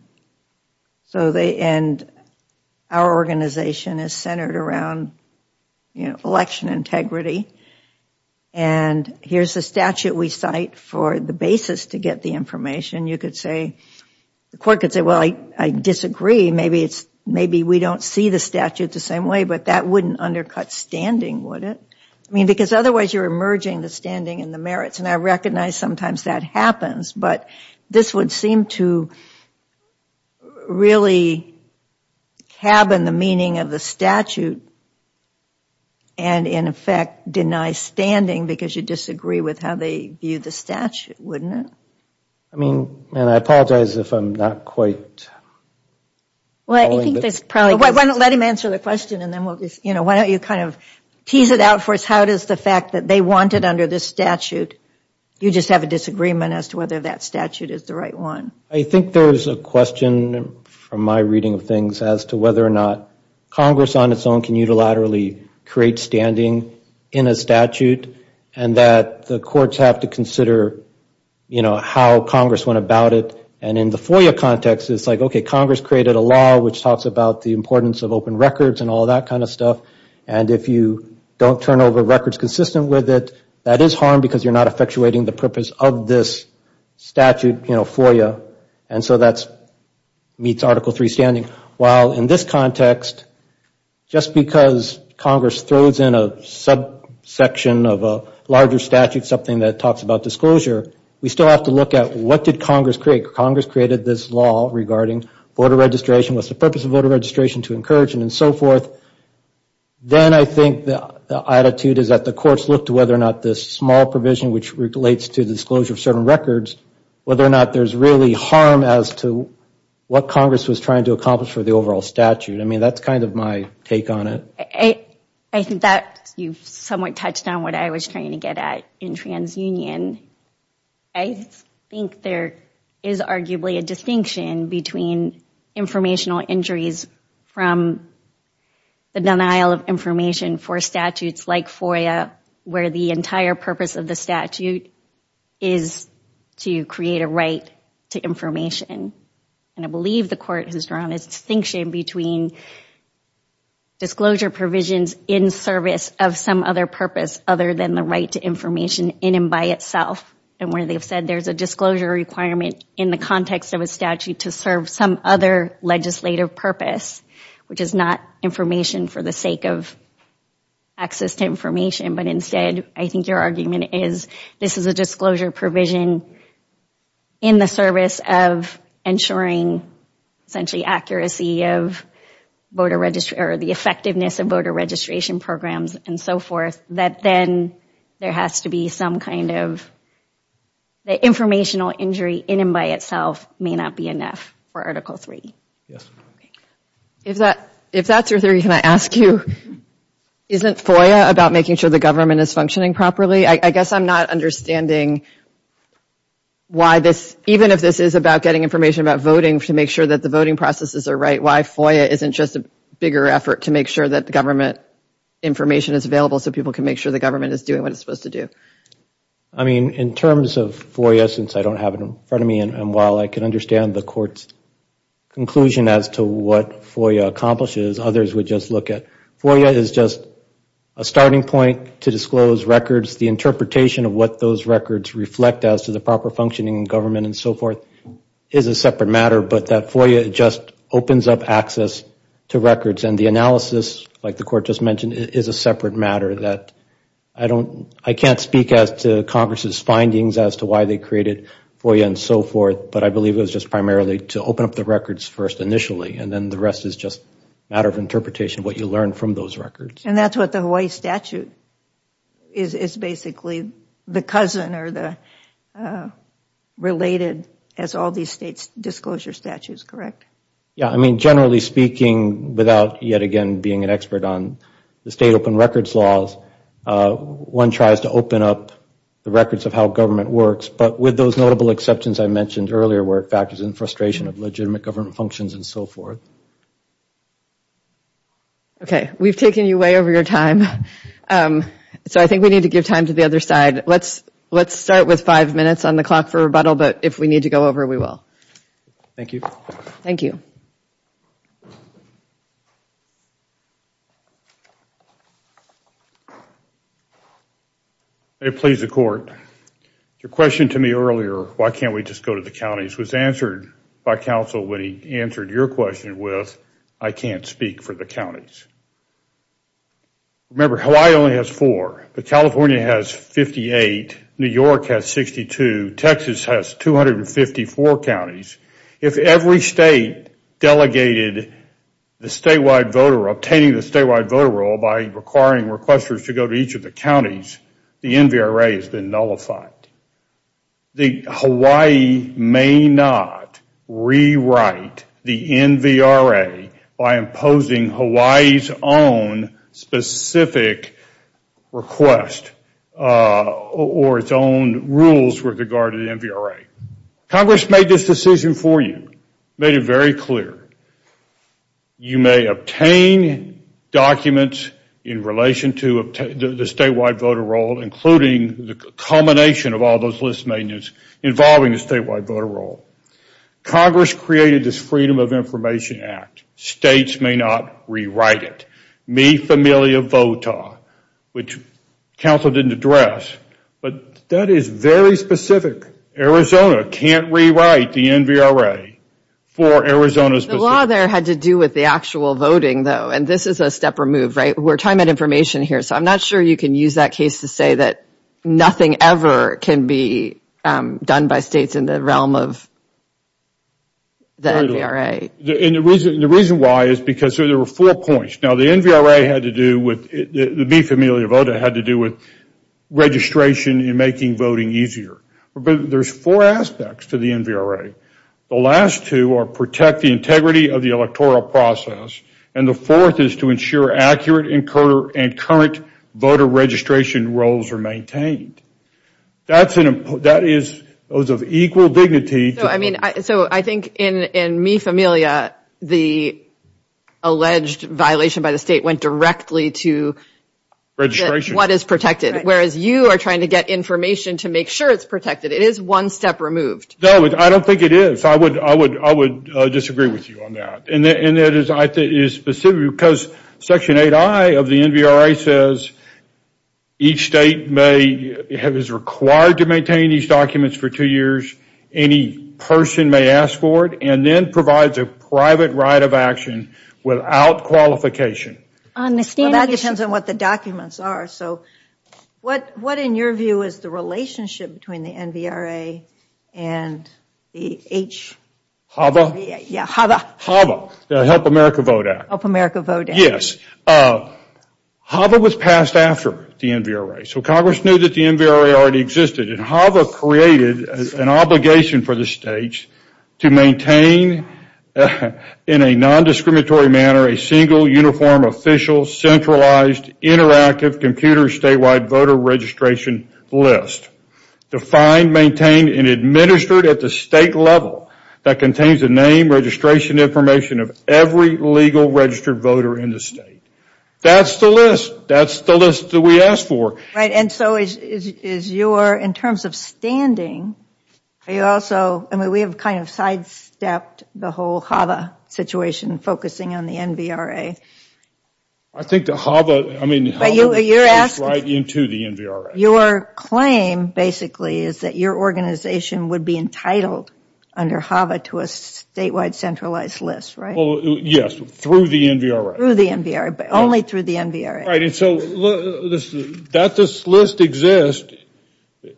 and our organization is centered around election integrity, and here's the statute we cite for the basis to get the information, you could say – the court could say, well, I disagree. Maybe we don't see the statute the same way, but that wouldn't undercut standing, would it? I mean, because otherwise you're emerging the standing and the merits, and I recognize sometimes that happens. But this would seem to really cabin the meaning of the statute and in effect deny standing because you disagree with how they view the statute, wouldn't it? I mean, and I apologize if I'm not quite – Well, I think there's probably – Let him answer the question, and then we'll just – you know, why don't you kind of tease it out for us. How does the fact that they want it under this statute, you just have a disagreement as to whether that statute is the right one? I think there's a question from my reading of things as to whether or not Congress on its own can unilaterally create standing in a statute, and that the courts have to consider, you know, how Congress went about it. And in the FOIA context, it's like, okay, Congress created a law which talks about the importance of open records and all that kind of stuff, and if you don't turn over records consistent with it, that is harm because you're not effectuating the purpose of this statute, you know, FOIA. And so that meets Article III standing. While in this context, just because Congress throws in a subsection of a larger statute, something that talks about disclosure, we still have to look at what did Congress create. Congress created this law regarding voter registration, what's the purpose of voter registration to encourage and so forth. Then I think the attitude is that the courts look to whether or not this small provision which relates to the disclosure of certain records, whether or not there's really harm as to what Congress was trying to accomplish for the overall statute. I mean, that's kind of my take on it. I think that you've somewhat touched on what I was trying to get at in TransUnion. I think there is arguably a distinction between informational injuries from the denial of information for statutes like FOIA, where the entire purpose of the statute is to create a right to information. And I believe the court has drawn a distinction between disclosure provisions in service of some other purpose other than the right to information in and by itself, and where they've said there's a disclosure requirement in the context of a statute to serve some other legislative purpose, which is not information for the sake of access to information, but instead I think your argument is this is a disclosure provision in the service of ensuring essentially accuracy of the effectiveness of voter registration programs and so forth, that then there has to be some kind of informational injury in and by itself may not be enough for Article III. If that's your theory, can I ask you, isn't FOIA about making sure the government is functioning properly? I guess I'm not understanding why this, even if this is about getting information about voting to make sure that the voting processes are right, why FOIA isn't just a bigger effort to make sure that the government information is available so people can make sure the government is doing what it's supposed to do. I mean, in terms of FOIA, since I don't have it in front of me, and while I can understand the Court's conclusion as to what FOIA accomplishes, others would just look at FOIA as just a starting point to disclose records. The interpretation of what those records reflect as to the proper functioning in government and so forth is a separate matter, but that FOIA just opens up access to records and the analysis, like the Court just mentioned, is a separate matter. I can't speak as to Congress's findings as to why they created FOIA and so forth, but I believe it was just primarily to open up the records first initially and then the rest is just a matter of interpretation of what you learn from those records. And that's what the Hawaii statute is basically, the cousin or related as all these states' disclosure statutes, correct? Yeah, I mean, generally speaking, without yet again being an expert on the state open records laws, one tries to open up the records of how government works, but with those notable exceptions I mentioned earlier where it factors in frustration of legitimate government functions and so forth. Okay, we've taken you way over your time, so I think we need to give time to the other side. Let's start with five minutes on the clock for rebuttal, but if we need to go over, we will. Thank you. Thank you. May it please the Court. Your question to me earlier, why can't we just go to the counties, was answered by counsel when he answered your question with, I can't speak for the counties. Remember, Hawaii only has four, but California has 58, New York has 62, Texas has 254 counties. If every state delegated the statewide voter, obtaining the statewide voter roll by requiring requesters to go to each of the counties, the NVRA has been nullified. Hawaii may not rewrite the NVRA by imposing Hawaii's own specific request or its own rules with regard to the NVRA. Congress made this decision for you, made it very clear. You may obtain documents in relation to the statewide voter roll, including the culmination of all those list maintenance involving the statewide voter roll. Congress created this Freedom of Information Act. States may not rewrite it. Mi Familia Vota, which counsel didn't address, but that is very specific. Arizona can't rewrite the NVRA for Arizona's position. The law there had to do with the actual voting, though, and this is a stepper move, right? We're talking about information here, so I'm not sure you can use that case to say that nothing ever can be done by states in the realm of the NVRA. The reason why is because there were four points. Now, the Mi Familia Vota had to do with registration and making voting easier, but there's four aspects to the NVRA. The last two are protect the integrity of the electoral process, and the fourth is to ensure accurate and current voter registration rolls are maintained. That is of equal dignity. I think in Mi Familia, the alleged violation by the state went directly to what is protected, whereas you are trying to get information to make sure it's protected. It is one step removed. I don't think it is. I would disagree with you on that. Section 8I of the NVRA says each state is required to maintain these documents for two years. Any person may ask for it, and then provides a private right of action without qualification. That depends on what the documents are. What, in your view, is the relationship between the NVRA and the H? HAVA? Yeah, HAVA. HAVA, the Help America Vote Act. Help America Vote Act. Yes. HAVA was passed after the NVRA, so Congress knew that the NVRA already existed, and HAVA created an obligation for the states to maintain, in a non-discriminatory manner, a single, uniform, official, centralized, interactive, computer, statewide voter registration list. Defined, maintained, and administered at the state level, that contains the name, registration information of every legal registered voter in the state. That's the list. That's the list that we asked for. Right, and so is your, in terms of standing, are you also, I mean, we have kind of sidestepped the whole HAVA situation, focusing on the NVRA. I think the HAVA, I mean, HAVA goes right into the NVRA. Your claim, basically, is that your organization would be entitled, under HAVA, to a statewide centralized list, right? Yes, through the NVRA. Through the NVRA, but only through the NVRA. Right, and so that this list exists,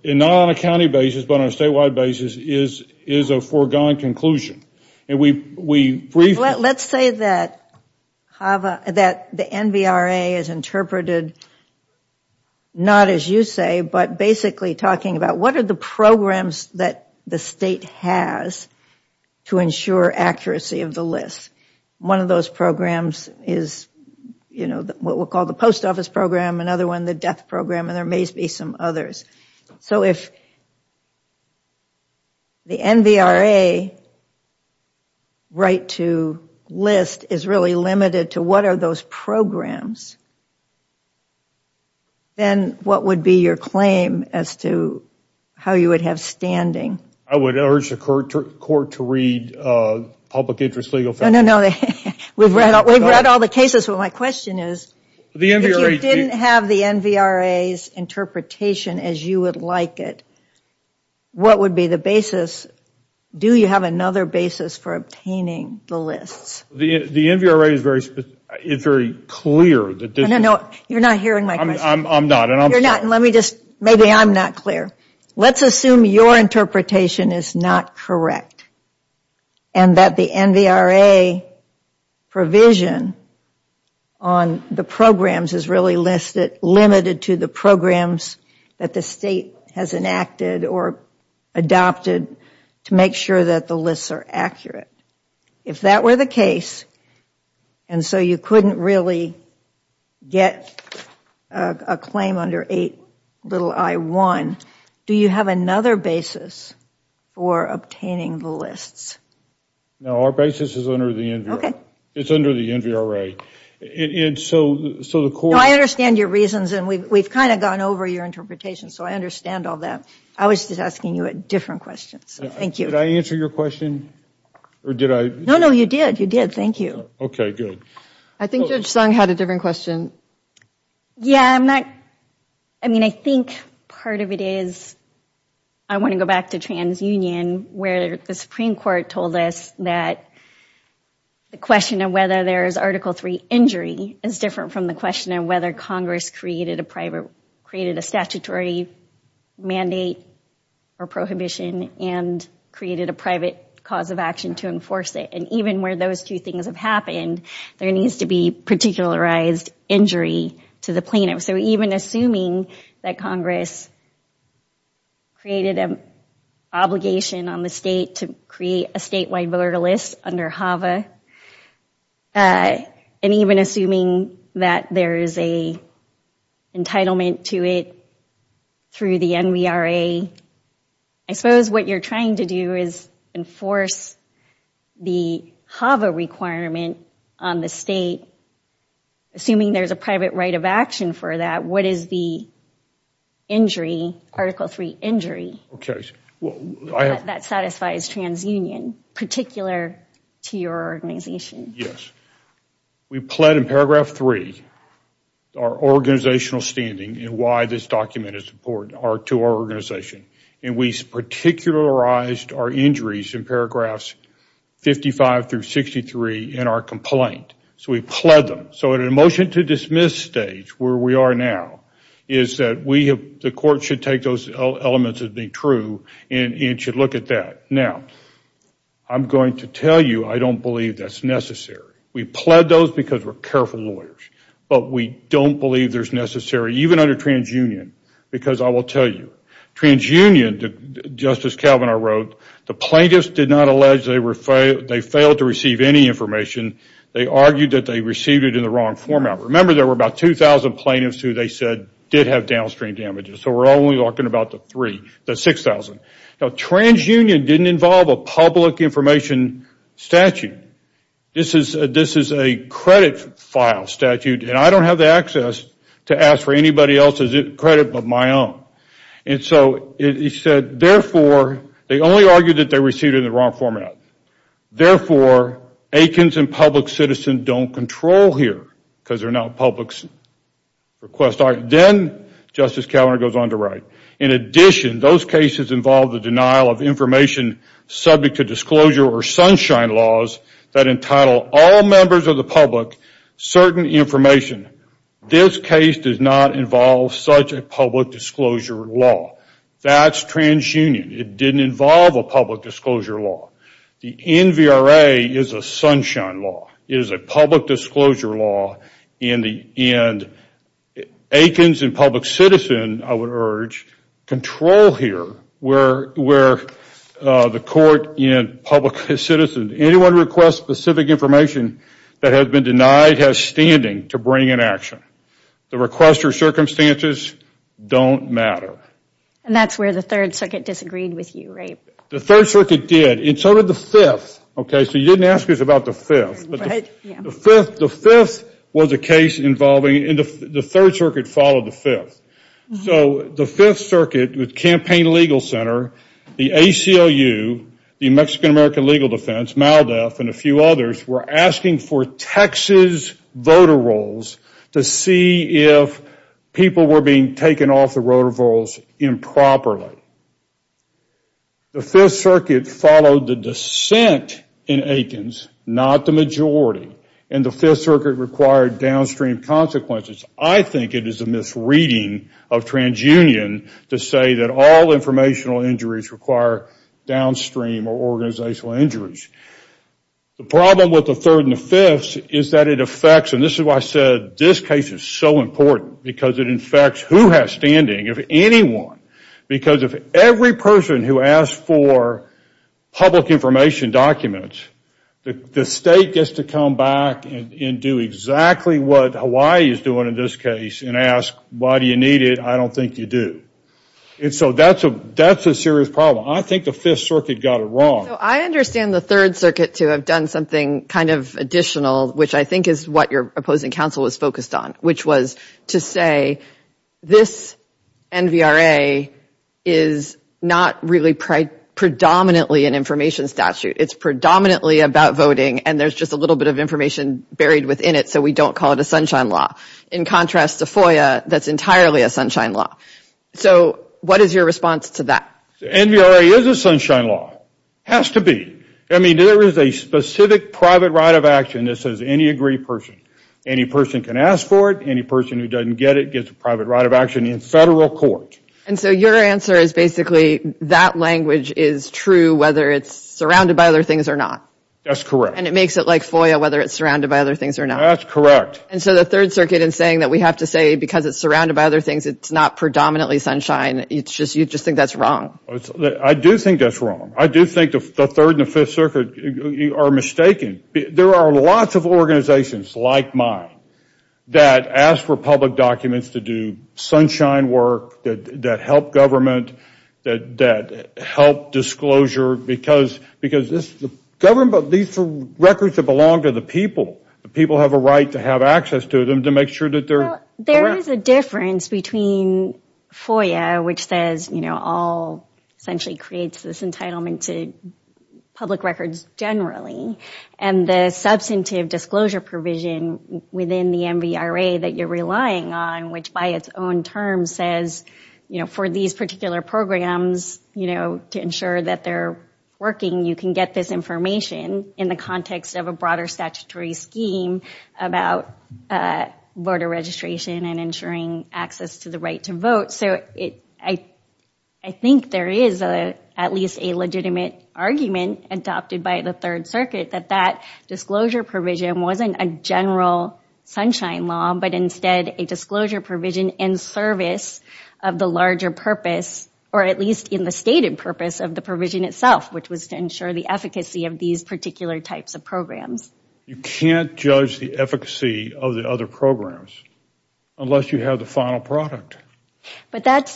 not on a county basis, but on a statewide basis, is a foregone conclusion, and we briefly Let's say that the NVRA is interpreted, not as you say, but basically talking about what are the programs that the state has to ensure accuracy of the list. One of those programs is what we'll call the post office program, another one the death program, and there may be some others. So if the NVRA right to list is really limited to what are those programs, then what would be your claim as to how you would have standing? I would urge the court to read public interest legal facts. We've read all the cases, but my question is, if you didn't have the NVRA's interpretation as you would like it, what would be the basis? Do you have another basis for obtaining the lists? The NVRA is very clear. No, no, no, you're not hearing my question. I'm not, and I'm sorry. You're not, and let me just, maybe I'm not clear. Let's assume your interpretation is not correct and that the NVRA provision on the programs is really limited to the programs that the state has enacted or adopted to make sure that the lists are accurate. If that were the case, and so you couldn't really get a claim under 8 i1, do you have another basis for obtaining the lists? No, our basis is under the NVRA. It's under the NVRA. I understand your reasons, and we've kind of gone over your interpretation, so I understand all that. I was just asking you different questions. Thank you. Did I answer your question, or did I? No, no, you did. You did. Thank you. Okay, good. I think Judge Sung had a different question. Yeah, I'm not, I mean, I think part of it is I want to go back to TransUnion where the Supreme Court told us that the question of whether there is Article III injury is different from the question of whether Congress created a statutory mandate or prohibition and created a private cause of action to enforce it. And even where those two things have happened, there needs to be particularized injury to the plaintiff. So even assuming that Congress created an obligation on the state to create a statewide voter list under HAVA, and even assuming that there is an entitlement to it through the NVRA, I suppose what you're trying to do is enforce the HAVA requirement on the state, assuming there's a private right of action for that. What is the injury, Article III injury, that satisfies TransUnion, in particular to your organization? Yes. We pled in Paragraph 3 our organizational standing and why this document is important to our organization. And we particularized our injuries in Paragraphs 55 through 63 in our complaint. So we pled them. So in a motion to dismiss stage, where we are now, is that the court should take those elements as being true and should look at that. Now, I'm going to tell you I don't believe that's necessary. We pled those because we're careful lawyers. But we don't believe there's necessary, even under TransUnion, because I will tell you, TransUnion, Justice Kavanaugh wrote, the plaintiffs did not allege they failed to receive any information. They argued that they received it in the wrong format. Remember, there were about 2,000 plaintiffs who they said did have downstream damages. So we're only talking about the 3,000, the 6,000. Now, TransUnion didn't involve a public information statute. This is a credit file statute, and I don't have the access to ask for anybody else's credit but my own. And so he said, therefore, they only argued that they received it in the wrong format. Therefore, Aikens and Public Citizen don't control here because they're not Public Request. Then Justice Kavanaugh goes on to write, in addition, those cases involve the denial of information subject to disclosure or sunshine laws that entitle all members of the public certain information. This case does not involve such a public disclosure law. That's TransUnion. It didn't involve a public disclosure law. The NVRA is a sunshine law. It is a public disclosure law. And Aikens and Public Citizen, I would urge, control here where the court and public citizen, anyone who requests specific information that has been denied has standing to bring an action. The requester circumstances don't matter. And that's where the Third Circuit disagreed with you, right? The Third Circuit did, and so did the Fifth. So you didn't ask us about the Fifth. The Fifth was a case involving, and the Third Circuit followed the Fifth. So the Fifth Circuit with Campaign Legal Center, the ACLU, the Mexican-American Legal Defense, MALDEF, and a few others were asking for Texas voter rolls to see if people were being taken off the voter rolls improperly. The Fifth Circuit followed the dissent in Aikens, not the majority, and the Fifth Circuit required downstream consequences. I think it is a misreading of TransUnion to say that all informational injuries require downstream or organizational injuries. The problem with the Third and the Fifth is that it affects, and this is why I said this case is so important, because it affects who has standing, if anyone, because if every person who asks for public information documents, the state gets to come back and do exactly what Hawaii is doing in this case and ask why do you need it, I don't think you do. And so that's a serious problem. I think the Fifth Circuit got it wrong. So I understand the Third Circuit to have done something kind of additional, which I think is what your opposing counsel was focused on, which was to say this NVRA is not really predominantly an information statute. It's predominantly about voting, and there's just a little bit of information buried within it, so we don't call it a sunshine law. In contrast to FOIA, that's entirely a sunshine law. So what is your response to that? NVRA is a sunshine law. Has to be. I mean, there is a specific private right of action that says any aggrieved person, any person can ask for it, any person who doesn't get it gets a private right of action in federal court. And so your answer is basically that language is true whether it's surrounded by other things or not. That's correct. And it makes it like FOIA whether it's surrounded by other things or not. That's correct. And so the Third Circuit is saying that we have to say because it's surrounded by other things it's not predominantly sunshine. You just think that's wrong. I do think that's wrong. I do think the Third and the Fifth Circuit are mistaken. There are lots of organizations like mine that ask for public documents to do sunshine work, that help government, that help disclosure because these are records that belong to the people. The people have a right to have access to them to make sure that they're correct. There is a difference between FOIA, which says all essentially creates this entitlement to public records generally, and the substantive disclosure provision within the MVRA that you're relying on, which by its own terms says for these particular programs to ensure that they're working you can get this information in the context of a broader statutory scheme about voter registration and ensuring access to the right to vote. I think there is at least a legitimate argument adopted by the Third Circuit that that disclosure provision wasn't a general sunshine law but instead a disclosure provision in service of the larger purpose or at least in the stated purpose of the provision itself, which was to ensure the efficacy of these particular types of programs. You can't judge the efficacy of the other programs unless you have the final product. But that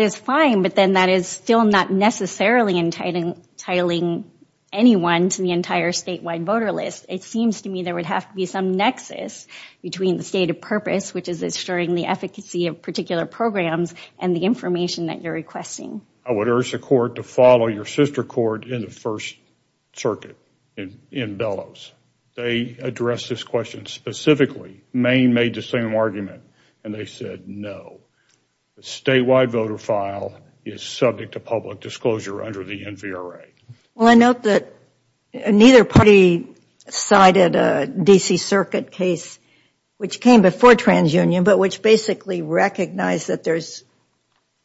is fine, but then that is still not necessarily entitling anyone to the entire statewide voter list. It seems to me there would have to be some nexus between the stated purpose, which is ensuring the efficacy of particular programs and the information that you're requesting. I would urge the court to follow your sister court in the First Circuit in Bellows. They addressed this question specifically. Maine made the same argument and they said no. The statewide voter file is subject to public disclosure under the NVRA. Well, I note that neither party cited a D.C. Circuit case, which came before TransUnion, but which basically recognized that there's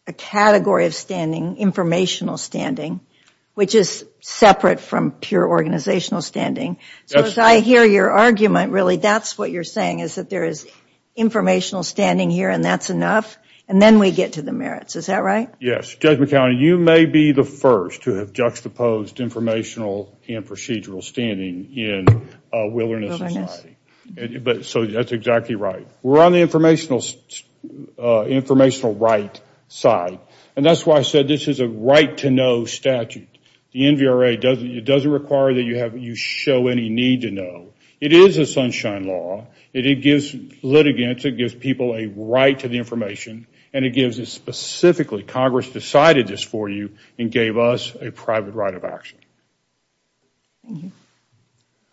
a category of standing, informational standing, which is separate from pure organizational standing. So as I hear your argument, really that's what you're saying, is that there is informational standing here and that's enough, and then we get to the merits. Is that right? Yes. Judge McCown, you may be the first to have juxtaposed informational and procedural standing in a wilderness society. So that's exactly right. We're on the informational right side, and that's why I said this is a right-to-know statute. The NVRA doesn't require that you show any need to know. It is a sunshine law. It gives litigants, it gives people a right to the information, and it gives us specifically, Congress decided this for you and gave us a private right of action.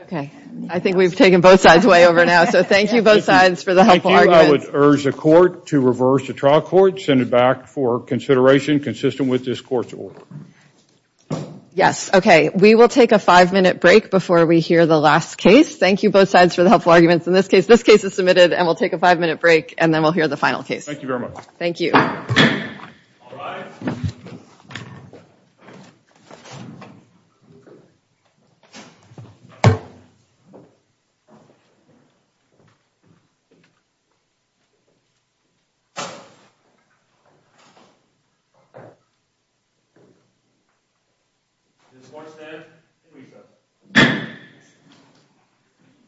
Okay. I think we've taken both sides way over now, so thank you both sides for the helpful arguments. I would urge the court to reverse the trial court, send it back for consideration consistent with this court's order. Yes. Okay. We will take a five-minute break before we hear the last case. Thank you both sides for the helpful arguments in this case. This case is submitted, and we'll take a five-minute break, and then we'll hear the final case. Thank you very much. Thank you.